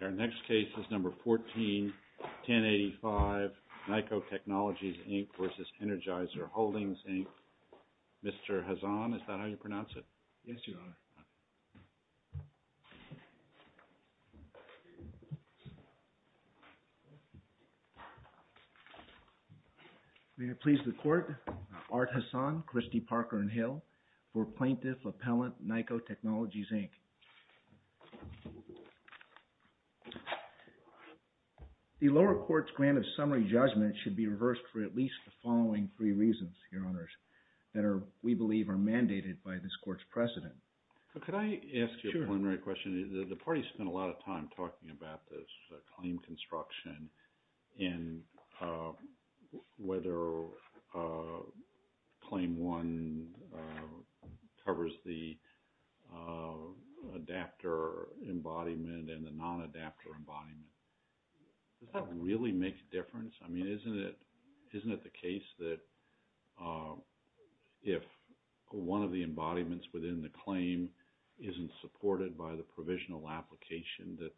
Our next case is number 14-1085, ENERGIZER Holdings, Inc., NYCO Technologies, Inc. v. Art Hassan, Christie Parker & Hill v. Plaintiff Appellant, NYKO Technologies, Inc. The lower court's grant of summary judgment should be reversed for at least the following three reasons, Your Honors, that are, we believe, are mandated by this court's precedent. Could I ask you a preliminary question? Sure. The parties spent a lot of time talking about this claim construction and whether Claim 1 covers the adapter embodiment and the non-adapter embodiment. Does that really make a difference? I mean, isn't it the case that if one of the embodiments within the claim isn't supported by the provisional application that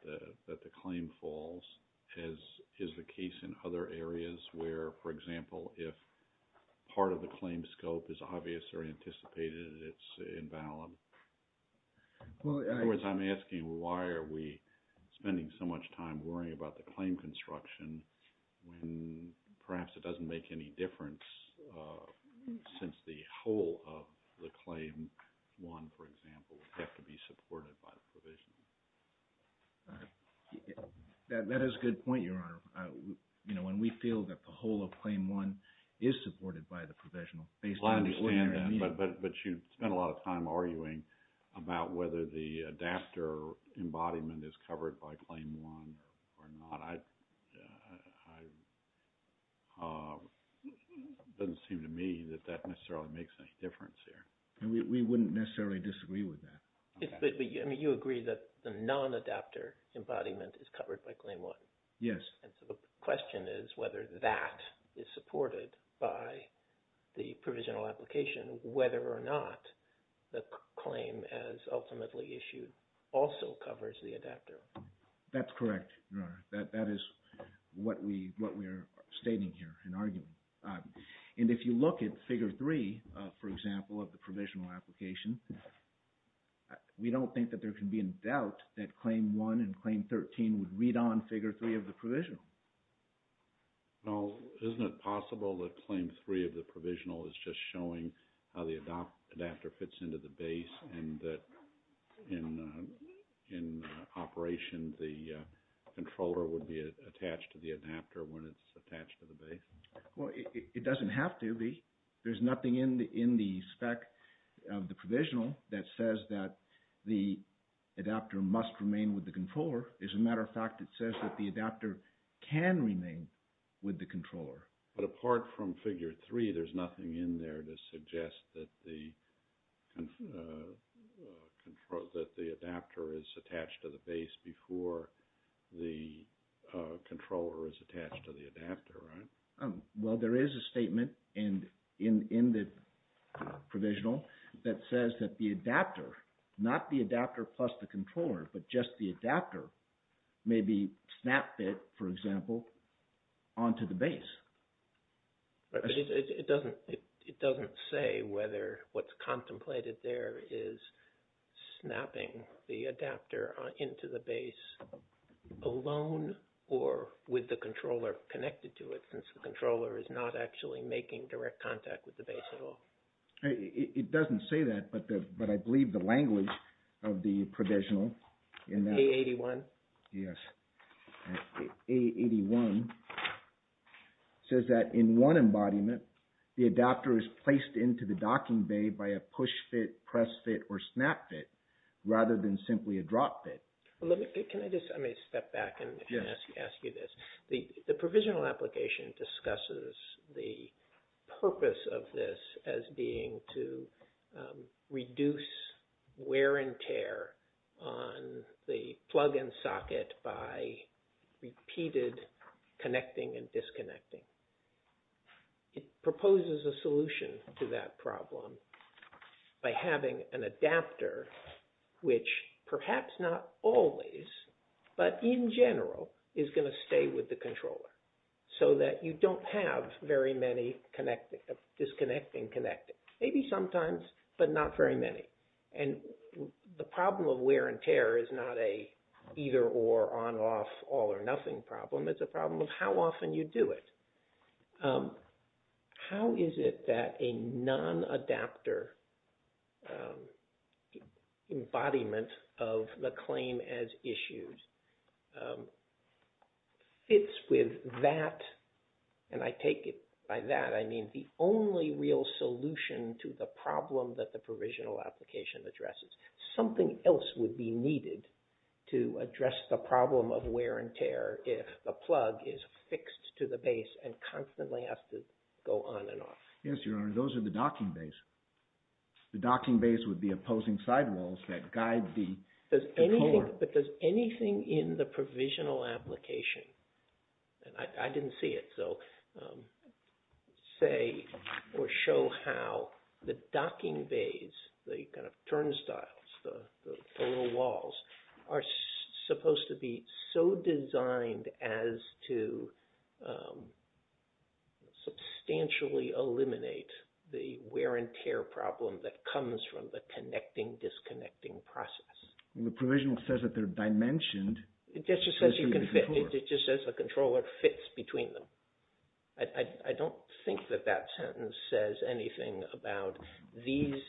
the claim falls, as is the case in other areas where, for example, if part of the claim scope is obvious or anticipated, it's invalid? In other words, I'm asking why are we spending so much time worrying about the claim construction when perhaps it doesn't make any difference since the whole of the claim, one, for example, would have to be supported by the provision? That is a good point, Your Honor. You know, when we feel that the whole of Claim 1 is supported by the provisional, based on the order of the meeting. Well, I understand that, but you spent a lot of time arguing about whether the adapter embodiment is covered by Claim 1 or not. I, it doesn't seem to me that that necessarily makes any difference here. We wouldn't necessarily disagree with that. But, I mean, you agree that the non-adapter embodiment is covered by Claim 1? Yes. And so the question is whether that is supported by the provisional application, whether or not the claim as ultimately issued also covers the adapter? That's correct, Your Honor. That is what we are stating here in argument. And if you look at Figure 3, for example, of the provisional application, we don't think that there can be in doubt that Claim 1 and Claim 13 would read on Figure 3 of the provisional. Well, isn't it possible that Claim 3 of the provisional is just showing how the adapter fits into the base and that in operation the controller would be attached to the adapter when it's attached to the base? Well, it doesn't have to be. There's nothing in the spec of the provisional that says that the adapter must remain with the controller. As a matter of fact, it says that the adapter can remain with the controller. But apart from Figure 3, there's nothing in there to suggest that the, that the adapter is attached to the base before the controller is attached to the adapter, right? Well, there is a statement in the provisional that says that the adapter, not the adapter plus the controller, but just the adapter, may be snap-fit, for example, onto the base. But it doesn't, it doesn't say whether what's contemplated there is snapping the adapter into the base alone or with the controller connected to it, since the controller is not actually making direct contact with the base at all. It doesn't say that, but I believe the language of the provisional in that... A81? Yes. A81 says that in one embodiment, the adapter is placed into the docking bay by a push-fit, a snap-fit. Let me, can I just, I may step back and ask you this. The provisional application discusses the purpose of this as being to reduce wear and tear on the plug-in socket by repeated connecting and disconnecting. It proposes a solution to that problem by having an adapter, which perhaps not always, but in general, is going to stay with the controller, so that you don't have very many connecting, disconnecting, connecting, maybe sometimes, but not very many. And the problem of wear and tear is not a either-or, on-off, all-or-nothing problem, it's a problem of how often you do it. How is it that a non-adapter embodiment of the claim as issued fits with that, and I take it by that, I mean the only real solution to the problem that the provisional application addresses. Something else would be needed to address the problem of wear and tear if the plug is fixed to the base and constantly has to go on and off. Yes, Your Honor, those are the docking bays. The docking bays would be opposing sidewalls that guide the controller. But does anything in the provisional application, and I didn't see it, so say or show how the turnstiles, the photo walls, are supposed to be so designed as to substantially eliminate the wear and tear problem that comes from the connecting, disconnecting process. The provisional says that they're dimensioned. It just says you can fit, it just says the controller fits between them. I don't think that that sentence says anything about these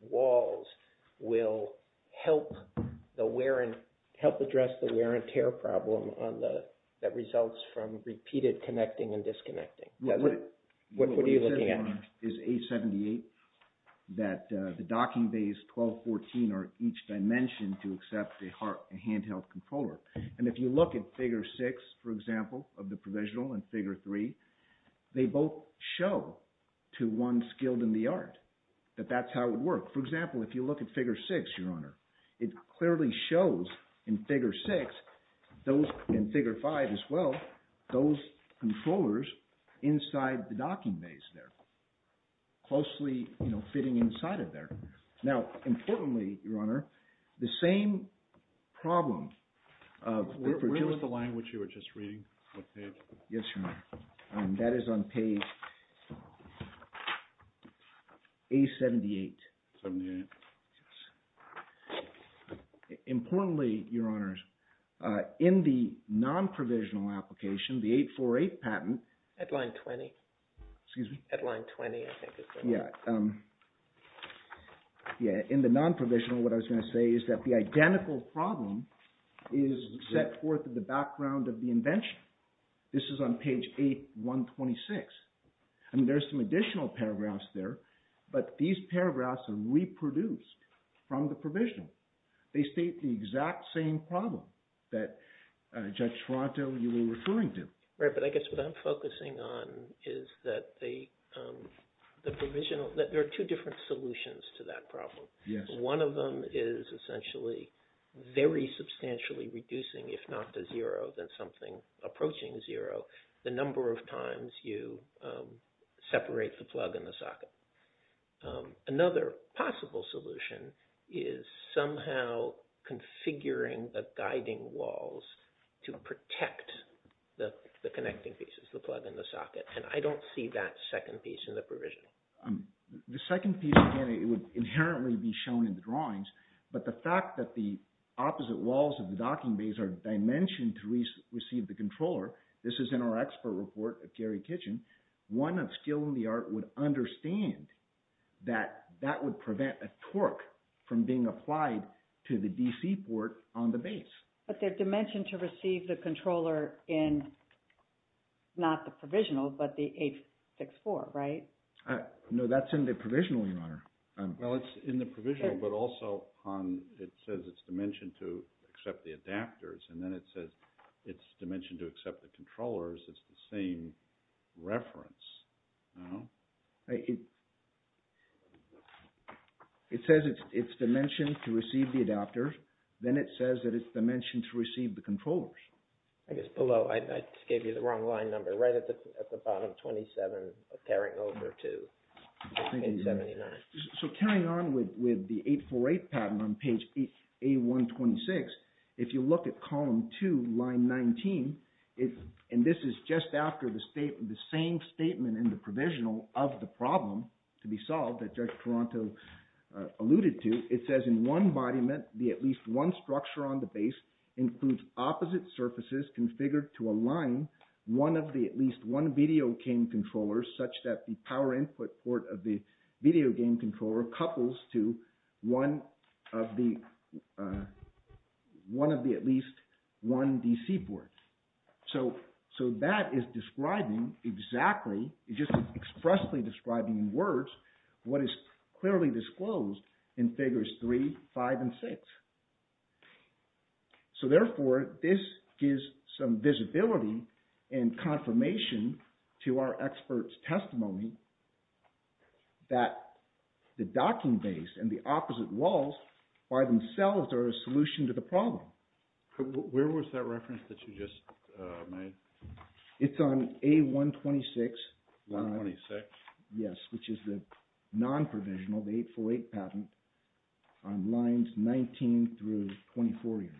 walls will help address the wear and tear problem that results from repeated connecting and disconnecting. What are you looking at? What you said, Your Honor, is A78, that the docking bays 1214 are each dimension to accept a handheld controller. And if you look at figure six, for example, of the provisional and figure three, they both show to one skilled in the art that that's how it would work. For example, if you look at figure six, Your Honor, it clearly shows in figure six, those in figure five as well, those controllers inside the docking bays there, closely fitting inside of there. Now, importantly, Your Honor, the same problem of... Where was the line which you were just reading? What page? Yes, Your Honor. That is on page A78. 78. Yes. Importantly, Your Honors, in the non-provisional application, the 848 patent... At line 20. Excuse me? At line 20, I think is the one. Yeah. In the non-provisional, what I was going to say is that the identical problem is set forth in the background of the invention. This is on page 8126. I mean, there's some additional paragraphs there, but these paragraphs are reproduced from the provisional. They state the exact same problem that Judge Toronto, you were referring to. Right, but I guess what I'm focusing on is that the provisional... There are two different solutions to that problem. One of them is essentially very substantially reducing, if not to zero, then something approaching zero, the number of times you separate the plug and the socket. Another possible solution is somehow configuring the guiding walls to protect the connecting pieces, the plug and the socket, and I don't see that second piece in the provisional. The second piece, again, it would inherently be shown in the drawings, but the fact that the opposite walls of the docking bays are dimensioned to receive the controller, this that that would prevent a torque from being applied to the DC port on the base. But they're dimensioned to receive the controller in, not the provisional, but the 864, right? No, that's in the provisional, Your Honor. Well, it's in the provisional, but also on... It says it's dimensioned to accept the adapters, and then it says it's dimensioned to accept the controllers. It's the same reference. Oh. It says it's dimensioned to receive the adapters, then it says that it's dimensioned to receive the controllers. I guess below, I gave you the wrong line number, right at the bottom, 27, carrying over to 879. So carrying on with the 848 pattern on page A126, if you look at column 2, line 19, and this is just after the same statement in the provisional of the problem to be solved that Judge Toronto alluded to, it says in one embodiment, the at least one structure on the base includes opposite surfaces configured to align one of the at least one video game controllers such that the power input port of the video game controller couples to one of the at least one DC port. So that is describing exactly, it's just expressly describing in words what is clearly disclosed in figures 3, 5, and 6. So therefore, this gives some visibility and confirmation to our experts' testimony that the docking base and the opposite walls by themselves are a solution to the problem. Where was that reference that you just made? It's on A126. A126? Yes, which is the non-provisional, the 848 patent, on lines 19 through 24 here.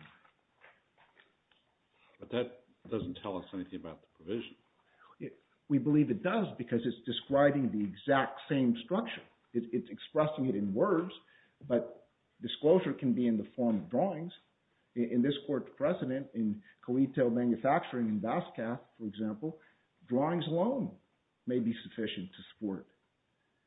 But that doesn't tell us anything about the provision. We believe it does because it's describing the exact same structure. It's expressing it in words, but disclosure can be in the form of drawings. In this court precedent, in Coetel Manufacturing in Basquiat, for example, drawings alone may be sufficient to support.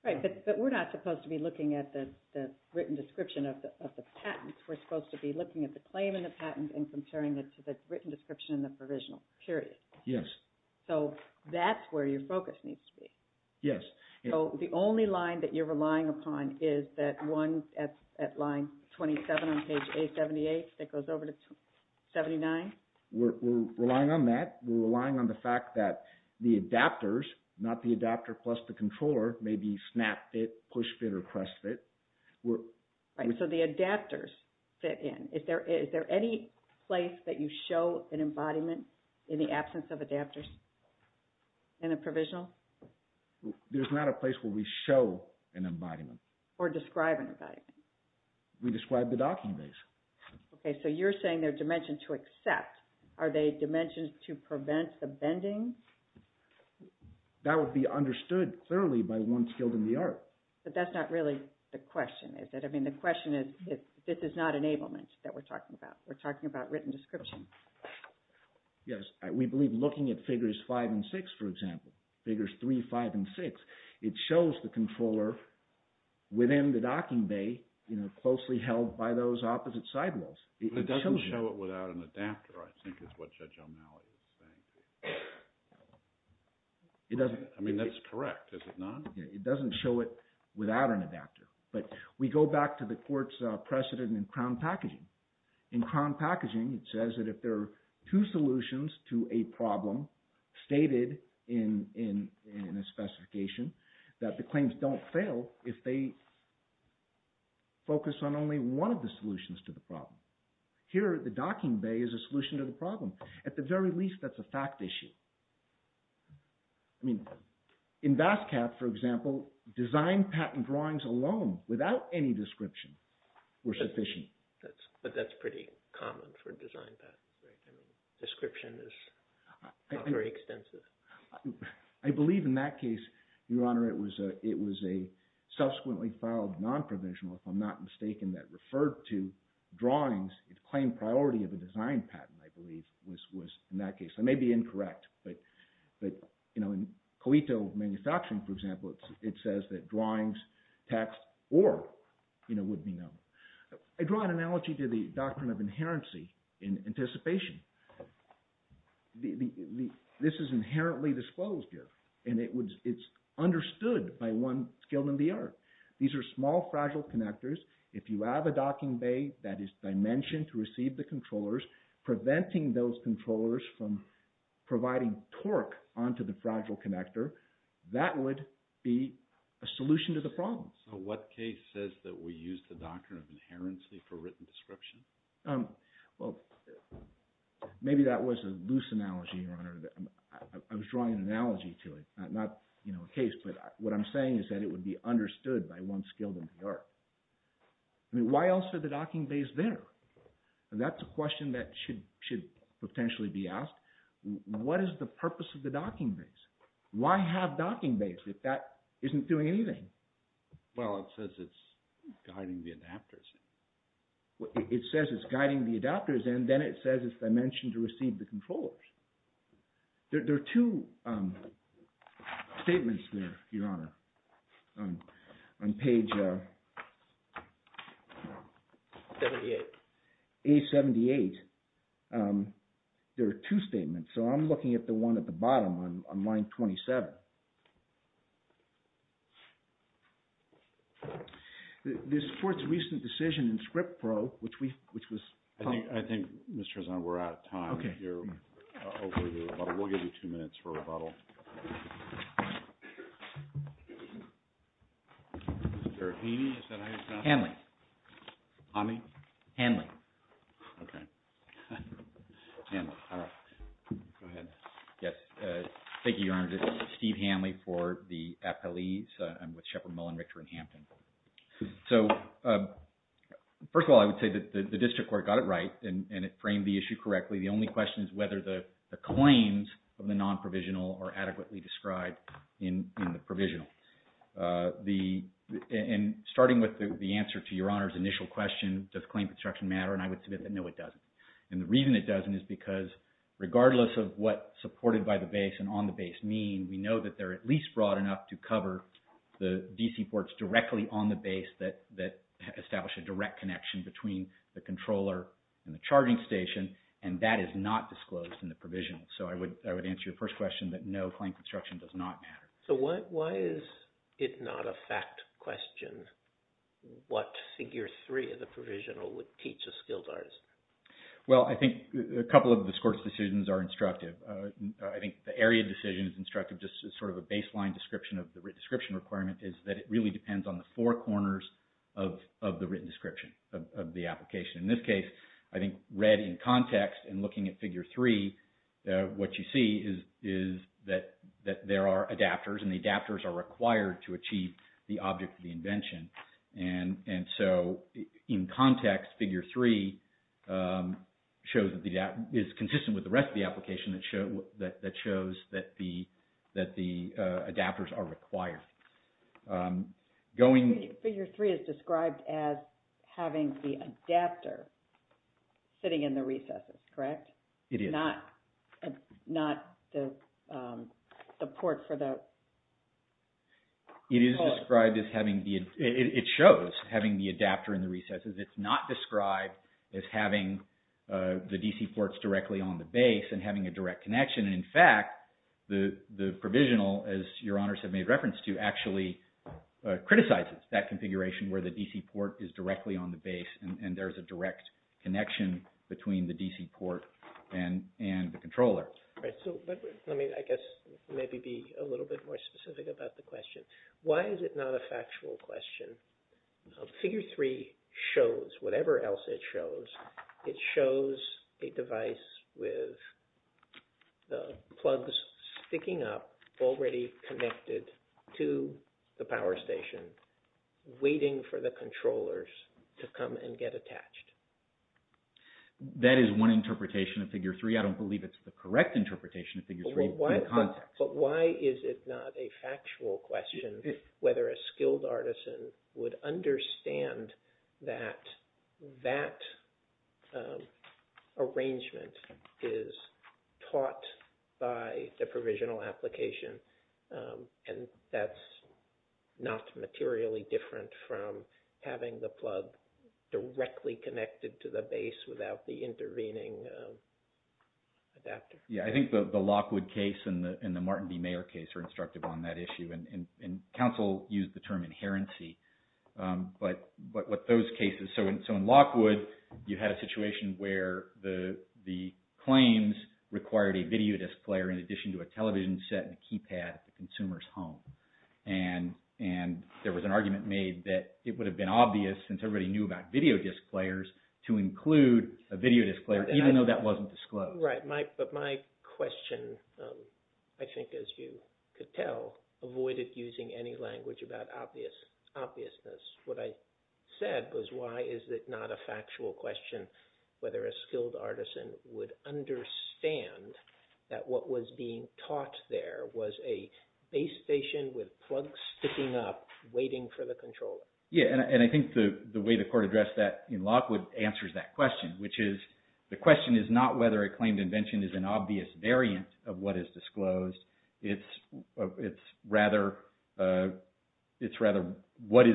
Right, but we're not supposed to be looking at the written description of the patent. We're supposed to be looking at the claim in the patent and comparing it to the written description in the provisional, period. So that's where your focus needs to be. Yes. So the only line that you're relying upon is that one at line 27 on page A78 that goes over to 79? We're relying on that. We're relying on the fact that the adapters, not the adapter plus the controller, may be snap fit, push fit, or press fit. Right, so the adapters fit in. Is there any place that you show an embodiment in the absence of adapters in a provisional? There's not a place where we show an embodiment. Or describe an embodiment. We describe the docking base. Okay, so you're saying they're dimensioned to accept. Are they dimensioned to prevent the bending? That would be understood clearly by one skilled in the art. But that's not really the question, is it? I mean, the question is, this is not enablement that we're talking about. We're talking about written description. Yes. We believe looking at figures five and six, for example, figures three, five, and six, it shows the controller within the docking bay, you know, closely held by those opposite side walls. But it doesn't show it without an adapter, I think is what Judge O'Malley was saying. It doesn't. I mean, that's correct. Is it not? It doesn't show it without an adapter. But we go back to the court's precedent in crown packaging. In crown packaging, it says that if there are two solutions to a problem stated in a specification that the claims don't fail if they focus on only one of the solutions to the problem. Here, the docking bay is a solution to the problem. At the very least, that's a fact issue. I mean, in BASCAP, for example, design patent drawings alone without any description were not a design patent. But that's pretty common for a design patent, right? I mean, description is not very extensive. I believe in that case, Your Honor, it was a subsequently filed non-provisional, if I'm not mistaken, that referred to drawings, it claimed priority of a design patent, I believe, was in that case. I may be incorrect. But, you know, in COITO manufacturing, for example, it says that drawings, text, or, you know, would be known. I draw an analogy to the doctrine of inherency in anticipation. This is inherently disclosed here, and it's understood by one skilled in the art. These are small, fragile connectors. If you have a docking bay that is dimensioned to receive the controllers, preventing those controllers from providing torque onto the fragile connector, that would be a solution to the problem. So what case says that we use the doctrine of inherency for written description? Well, maybe that was a loose analogy, Your Honor. I was drawing an analogy to it, not, you know, a case. But what I'm saying is that it would be understood by one skilled in the art. Why else are the docking bays there? That's a question that should potentially be asked. What is the purpose of the docking bays? Why have docking bays if that isn't doing anything? Well, it says it's guiding the adapters. It says it's guiding the adapters, and then it says it's dimensioned to receive the controllers. There are two statements there, Your Honor, on page 78. A78, there are two statements. So I'm looking at the one at the bottom on line 27. This court's recent decision in ScriptPro, which was... I think, Mr. Trezant, we're out of time. You're over the rebuttal. We'll give you two minutes for rebuttal. Hanley. Ami? Hanley. Okay. Hanley. All right. Go ahead. Yes. Thank you, Your Honor. This is Steve Hanley for the appellees. I'm with Sheppard Mullen Richter in Hampton. So, first of all, I would say that the district court got it right, and it framed the issue correctly. The only question is whether the claims of the non-provisional are adequately described in the provisional. And starting with the answer to Your Honor's initial question, does claim construction matter? And I would submit that no, it doesn't. And the reason it doesn't is because regardless of what supported by the base and on the base mean, we know that they're at least broad enough to cover the DC ports directly on the base that establish a direct connection between the controller and the charging station, and that is not disclosed in the provisional. So I would answer your first question that no, claim construction does not matter. So why is it not a fact question what figure three of the provisional would teach a skilled artist? Well, I think a couple of the court's decisions are instructive. I think the area decision is instructive just as sort of a baseline description of the written description requirement is that it really depends on the four corners of the written description of the application. In this case, I think read in context and looking at figure three, what you see is that there are adapters and the adapters are required to achieve the object of the invention. And so in context, figure three is consistent with the rest of the application that shows that the adapters are required. Figure three is described as having the adapter sitting in the recesses, correct? It is. Not the port for the... It is described as having the... It shows having the adapter in the recesses. It's not described as having the DC ports directly on the base and having a direct connection. And in fact, the provisional, as your honors have made reference to, actually criticizes that configuration where the DC port is directly on the base and there's a direct connection between the DC port and the controller. Right. So let me, I guess, maybe be a little bit more specific about the question. Why is it not a factual question? Figure three shows, whatever else it shows, it shows a device with the plugs sticking up already connected to the power station waiting for the controllers to come and get attached. That is one interpretation of figure three. I don't believe it's the correct interpretation of figure three in context. But why is it not a factual question whether a skilled artisan would understand that that arrangement is taught by the provisional application and that's not materially different from having the plug directly connected to the base without the intervening adapter? Yeah, I think the Lockwood case and the Martin B. Mayer case are instructive on that issue. And counsel used the term inherency. But with those cases, so in Lockwood, you had a situation where the claims required a video disc player in addition to a television set and a keypad at the consumer's home. And there was an argument made that it would have been obvious since everybody knew about video disc players to include a video disc player even though that wasn't disclosed. Right. But my question, I think as you could tell, avoided using any language about obviousness. What I said was why is it not a factual question whether a skilled artisan would understand that what was being taught there was a base station with plugs sticking up waiting for the controller? Yeah, and I think the way the court addressed that in Lockwood answers that question, which is the question is not whether a claimed invention is an obvious variant of what is disclosed. It's rather what is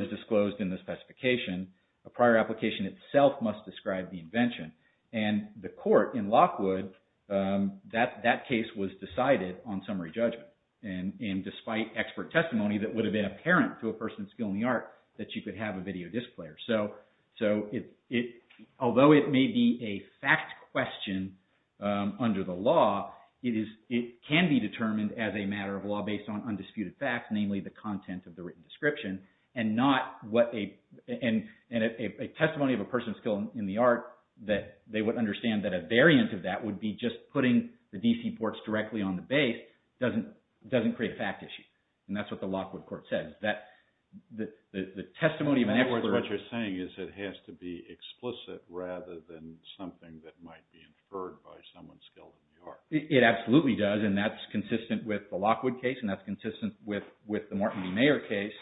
disclosed in the specification. A prior application itself must describe the invention. And the court in Lockwood, that case was decided on summary judgment. And despite expert testimony that would have been apparent to a person skilled in the art that you could have a video disc player. So although it may be a fact question under the law, it can be determined as a matter of law based on undisputed facts, namely the content of the written description. And a testimony of a person skilled in the art that they would understand that a variant of that would be just putting the DC ports directly on the base doesn't create a fact issue. And that's what the Lockwood court says. In other words, what you're saying is it has to be explicit rather than something that might be inferred by someone skilled in the art. It absolutely does, and that's consistent with the Lockwood case, and that's consistent with the Martin B. Mayer case.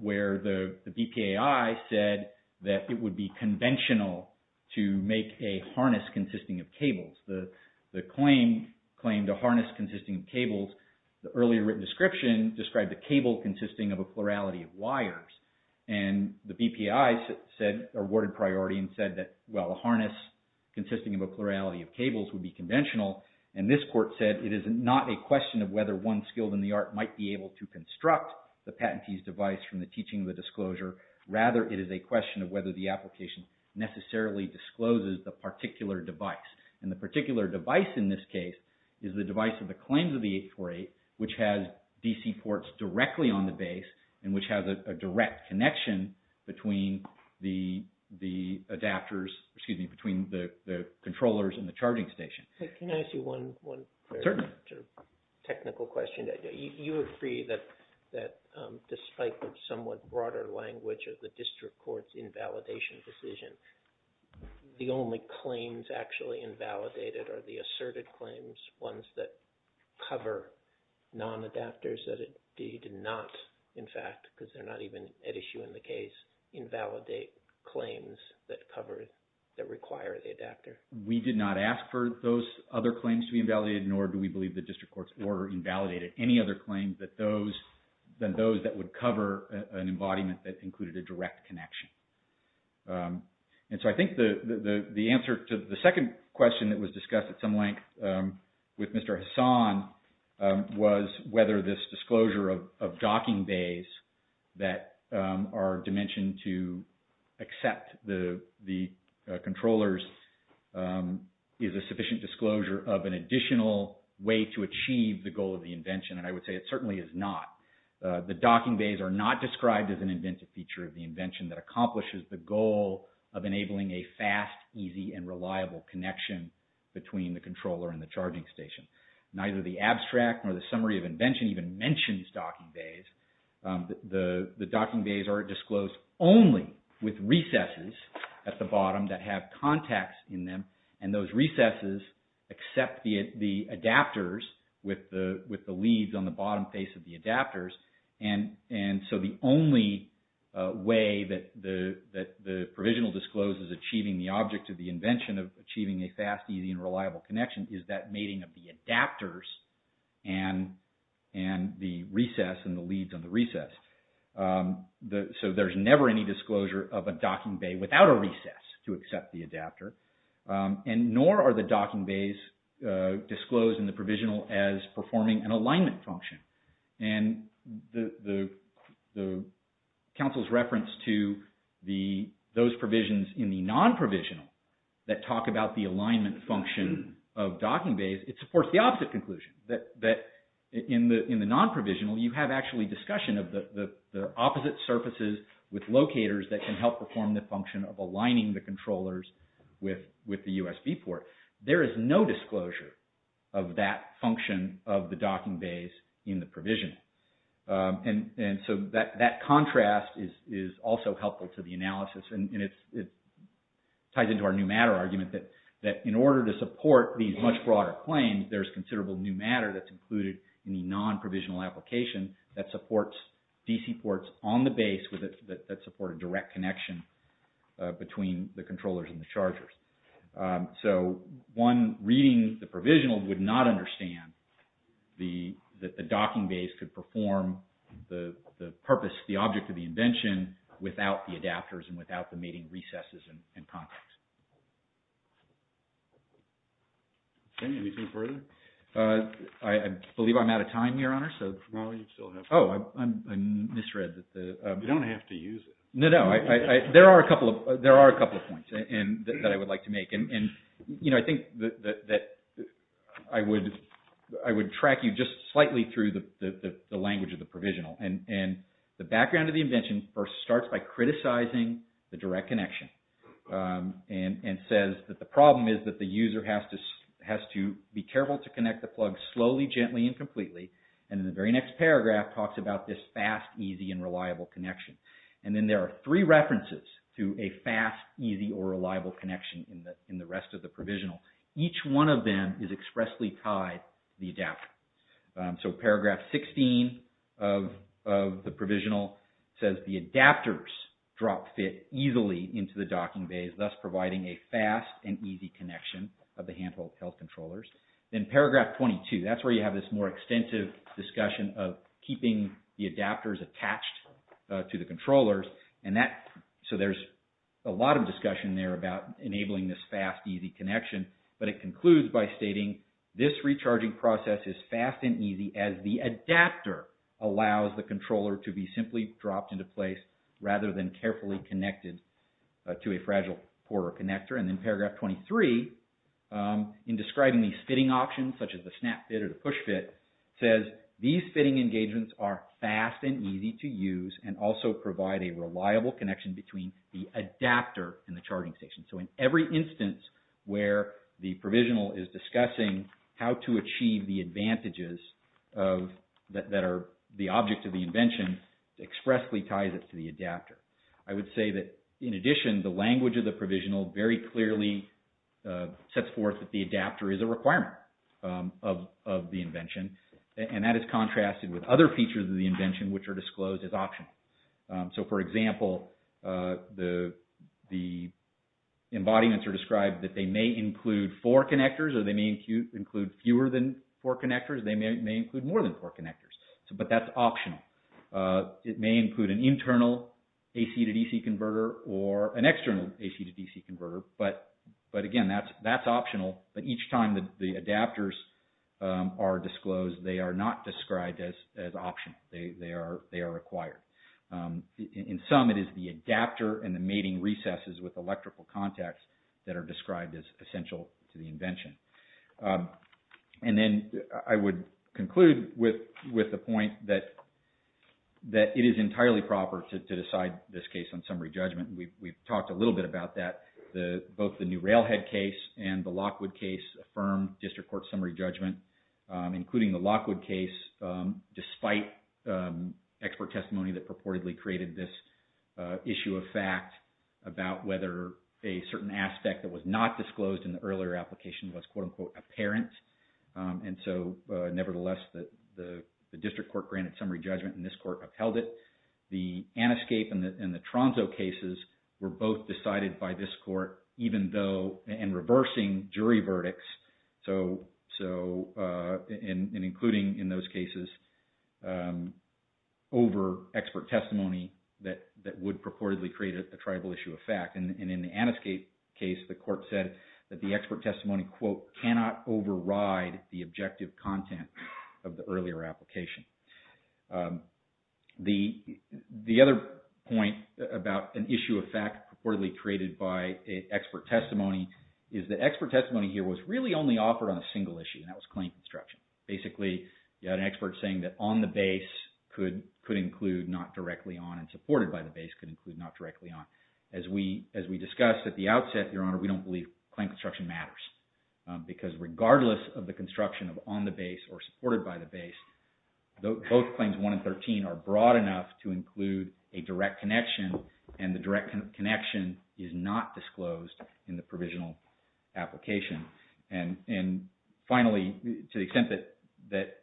Where the BPAI said that it would be conventional to make a harness consisting of cables. The claim to harness consisting of cables, the earlier written description described a cable consisting of a plurality of wires. And the BPAI awarded priority and said that, well, a harness consisting of a plurality of cables would be conventional. And this court said it is not a question of whether one skilled in the art might be able to construct the patentee's device from the teaching of the disclosure. Rather, it is a question of whether the application necessarily discloses the particular device. And the particular device in this case is the device of the claims of the 848, which has DC ports directly on the base, and which has a direct connection between the adapters, excuse me, between the controllers and the charging station. Can I ask you one technical question? You agree that despite the somewhat broader language of the district court's invalidation decision, the only claims actually invalidated are the asserted claims, ones that cover non-adapters that it did not, in fact, because they're not even at issue in the case, invalidate claims that cover, that require the adapter. We did not ask for those other claims to be invalidated, nor do we believe the district court's order invalidated any other claims than those that would cover an embodiment that included a direct connection. And so I think the answer to the second question that was discussed at some length with Mr. Hassan was whether this disclosure of docking bays that are dimensioned to accept the controllers is a sufficient disclosure of an additional way to achieve the goal of the invention, and I would say it certainly is not. The docking bays are not described as an inventive feature of the invention that accomplishes the goal of enabling a fast, easy, and reliable connection between the controller and the charging station. Neither the abstract nor the summary of invention even mentions docking bays. The docking bays are disclosed only with recesses at the bottom that have contacts in them, and those recesses accept the adapters with the leads on the bottom face of the adapters. And so the only way that the provisional disclose is achieving the object of the invention of achieving a fast, easy, and reliable connection is that mating of the adapters and the recess and the leads on the recess. So there's never any disclosure of a docking bay without a recess to accept the adapter. And nor are the docking bays disclosed in the provisional as performing an alignment function. And the Council's reference to those provisions in the non-provisional that talk about the alignment function of docking bays, it supports the opposite conclusion that in the non-provisional you have actually discussion of the opposite surfaces with locators that can help perform the function of aligning the controllers with the USB port. There is no disclosure of that function of the docking bays in the provisional. And so that contrast is also helpful to the analysis, and it ties into our new matter argument that in order to support these much broader claims, there's considerable new matter that's included in the non-provisional application that supports DC ports on the base that support a direct connection between the controllers and the chargers. So one reading the provisional would not understand that the docking bays could perform the object of the invention without the adapters and without the mating recesses and contacts. Anything further? I believe I'm out of time here, Honor. No, you still have time. Oh, I misread. You don't have to use it. No, no, there are a couple of points that I would like to make. And I think that I would track you just slightly through the language of the provisional. And the background of the invention starts by criticizing the direct connection. And says that the problem is that the user has to be careful to connect the plug slowly, gently, and completely. And in the very next paragraph talks about this fast, easy, and reliable connection. And then there are three references to a fast, easy, or reliable connection in the rest of the provisional. Each one of them is expressly tied to the adapter. So paragraph 16 of the provisional says the adapters drop fit easily into the docking bays, thus providing a fast and easy connection of the handheld health controllers. Then paragraph 22, that's where you have this more extensive discussion of keeping the adapters attached to the controllers. So there's a lot of discussion there about enabling this fast, easy connection. But it concludes by stating this recharging process is fast and easy as the adapter allows the controller to be simply dropped into place rather than carefully connected to a fragile port or connector. And then paragraph 23, in describing these fitting options, such as the snap fit or the push fit, says these fitting engagements are fast and easy to use and also provide a reliable connection between the adapter and the charging station. So in every instance where the provisional is discussing how to achieve the advantages that are the object of the invention, it expressly ties it to the adapter. I would say that, in addition, the language of the provisional very clearly sets forth that the adapter is a requirement of the invention. And that is contrasted with other features of the invention which are disclosed as optional. So, for example, the embodiments are described that they may include four connectors or they may include fewer than four connectors. They may include more than four connectors. But that's optional. It may include an internal AC to DC converter or an external AC to DC converter. But, again, that's optional. But each time the adapters are disclosed, they are not described as optional. They are required. In sum, it is the adapter and the mating recesses with electrical contacts that are described as essential to the invention. And then I would conclude with the point that it is entirely proper to decide this case on summary judgment. We've talked a little bit about that. Both the New Railhead case and the Lockwood case affirmed district court summary judgment, including the Lockwood case, despite expert testimony that purportedly created this issue of fact about whether a certain aspect that was not disclosed in the earlier application was, quote-unquote, apparent. And so, nevertheless, the district court granted summary judgment, and this court upheld it. The Aniscape and the Tronzo cases were both decided by this court, even though, and reversing jury verdicts, and including in those cases over expert testimony that would purportedly create a tribal issue of fact. And in the Aniscape case, the court said that the expert testimony, quote, cannot override the objective content of the earlier application. The other point about an issue of fact purportedly created by expert testimony is that expert testimony here was really only offered on a single issue, and that was claim construction. Basically, you had an expert saying that on the base could include not directly on and supported by the base could include not directly on. As we discussed at the outset, Your Honor, we don't believe claim construction matters because regardless of the construction of on the base or supported by the base, both claims 1 and 13 are broad enough to include a direct connection, and the direct connection is not disclosed in the provisional application. And finally, to the extent that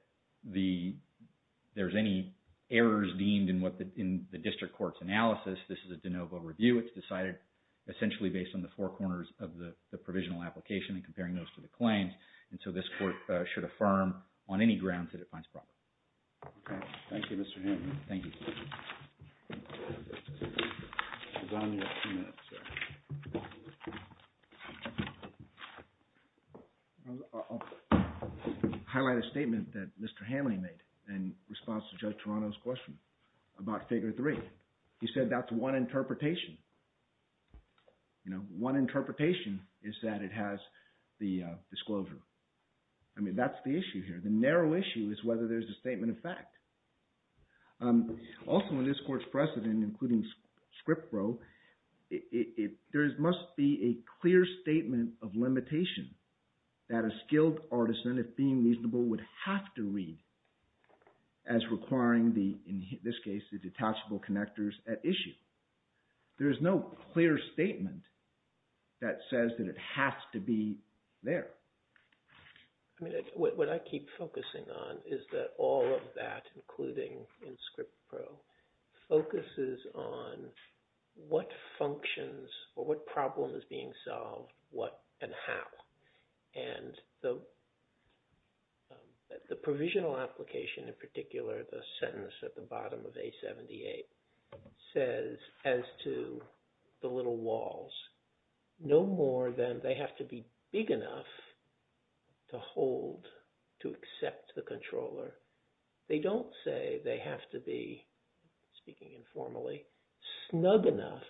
there's any errors deemed in the district court's analysis, this is a de novo review. It's decided essentially based on the four corners of the provisional application and comparing those to the claims. And so this court should affirm on any grounds that it finds proper. Okay. Thank you, Mr. Hanley. Thank you. I'll be down here in a few minutes, sir. I'll highlight a statement that Mr. Hanley made in response to Judge Toronto's question about Figure 3. He said that's one interpretation. One interpretation is that it has the disclosure. I mean, that's the issue here. The narrow issue is whether there's a statement of fact. Also, in this court's precedent, including Script Probe, there must be a clear statement of limitation that a skilled artisan, if being reasonable, would have to read as requiring the, in this case, the detachable connectors at issue. There is no clear statement that says that it has to be there. What I keep focusing on is that all of that, including in Script Probe, focuses on what functions or what problem is being solved, what and how. And the provisional application, in particular, the sentence at the bottom of A78, says, as to the little walls, no more than they have to be big enough to hold, to accept the controller. They don't say they have to be, speaking informally, snug enough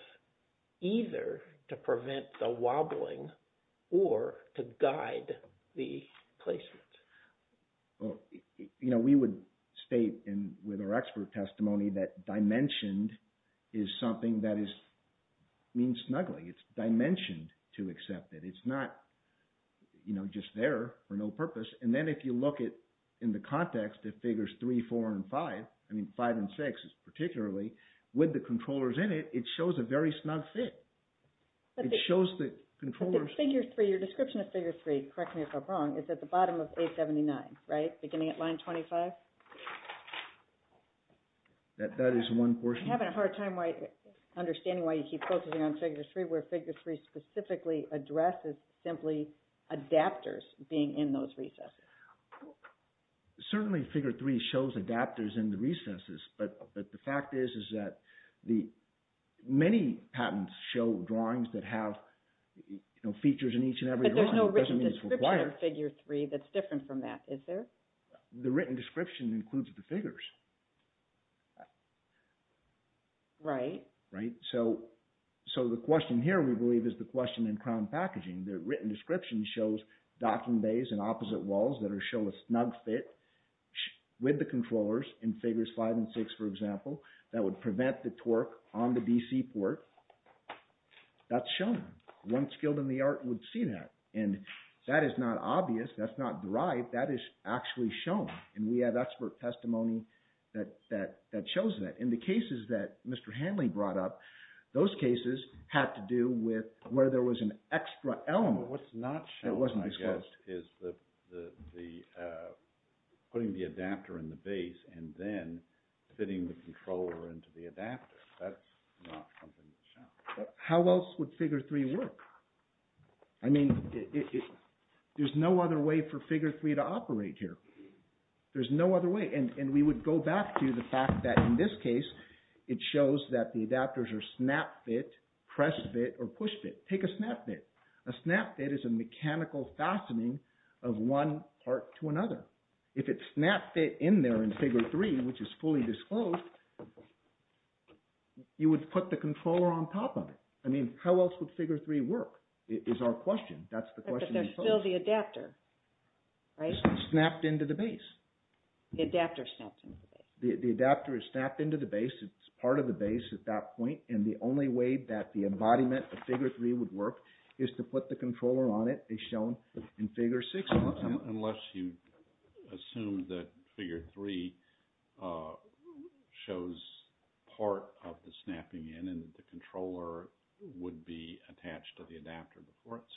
either to prevent the wobbling or to guide the placement. We would state with our expert testimony that dimensioned is something that means snugly. It's dimensioned to accept it. It's not just there for no purpose. And then if you look at, in the context of Figures 3, 4, and 5, I mean, 5 and 6 is particularly, with the controllers in it, it shows a very snug fit. It shows the controllers. Figure 3, your description of Figure 3, correct me if I'm wrong, is at the bottom of A79, right? Beginning at line 25? That is one portion. I'm having a hard time understanding why you keep focusing on Figure 3, where Figure 3 specifically addresses simply adapters being in those recesses. Certainly, Figure 3 shows adapters in the recesses, but the fact is that many patents show drawings that have features in each and every drawing. But there's no written description of Figure 3 that's different from that, is there? The written description includes the figures. Right. Right. So the question here, we believe, is the question in crown packaging. The written description shows docking bays and opposite walls that show a snug fit with the controllers in Figures 5 and 6, for example, that would prevent the torque on the DC port. That's shown. One skilled in the art would see that, and that is not obvious. That's not derived. That is actually shown, and we have expert testimony that shows that. In the cases that Mr. Hanley brought up, those cases had to do with where there was an extra element that wasn't disclosed. What's not shown, I guess, is putting the adapter in the base and then fitting the controller into the adapter. That's not something that's shown. How else would Figure 3 work? I mean, there's no other way for Figure 3 to operate here. There's no other way. And we would go back to the fact that, in this case, it shows that the adapters are snap fit, press fit, or push fit. Take a snap fit. A snap fit is a mechanical fastening of one part to another. If it's snap fit in there in Figure 3, which is fully disclosed, you would put the controller on top of it. I mean, how else would Figure 3 work is our question. That's the question. But there's still the adapter, right? Snapped into the base. The adapter snapped into the base. The adapter is snapped into the base. It's part of the base at that point, and the only way that the embodiment of Figure 3 would work is to put the controller on it as shown in Figure 6. Unless you assume that Figure 3 shows part of the snapping in, and the controller would be attached to the adapter before it snapped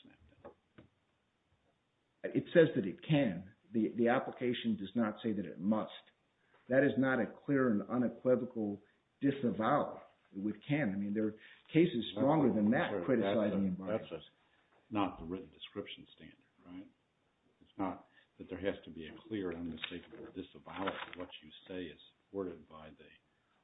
in. It says that it can. The application does not say that it must. That is not a clear and unequivocal disavowal. We can. I mean, there are cases stronger than that criticizing embodiments. That's not the written description standard, right? It's not that there has to be a clear and unmistakable disavowal of what you say is supported by the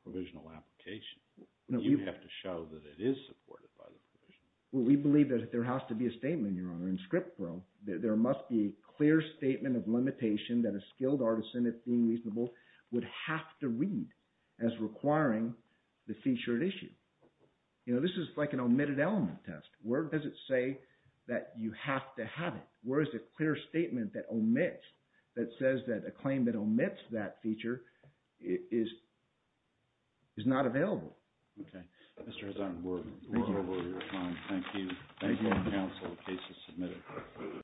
provisional application. You have to show that it is supported by the provision. Well, we believe that there has to be a statement, Your Honor, in script form. There must be a clear statement of limitation that a skilled artisan, if being reasonable, would have to read as requiring the featured issue. This is like an omitted element test. Where does it say that you have to have it? Where is the clear statement that omits, that says that a claim that omits that feature is not available? Okay. Mr. Hazan, we're over your time. Thank you. Thank you, counsel, the case is submitted.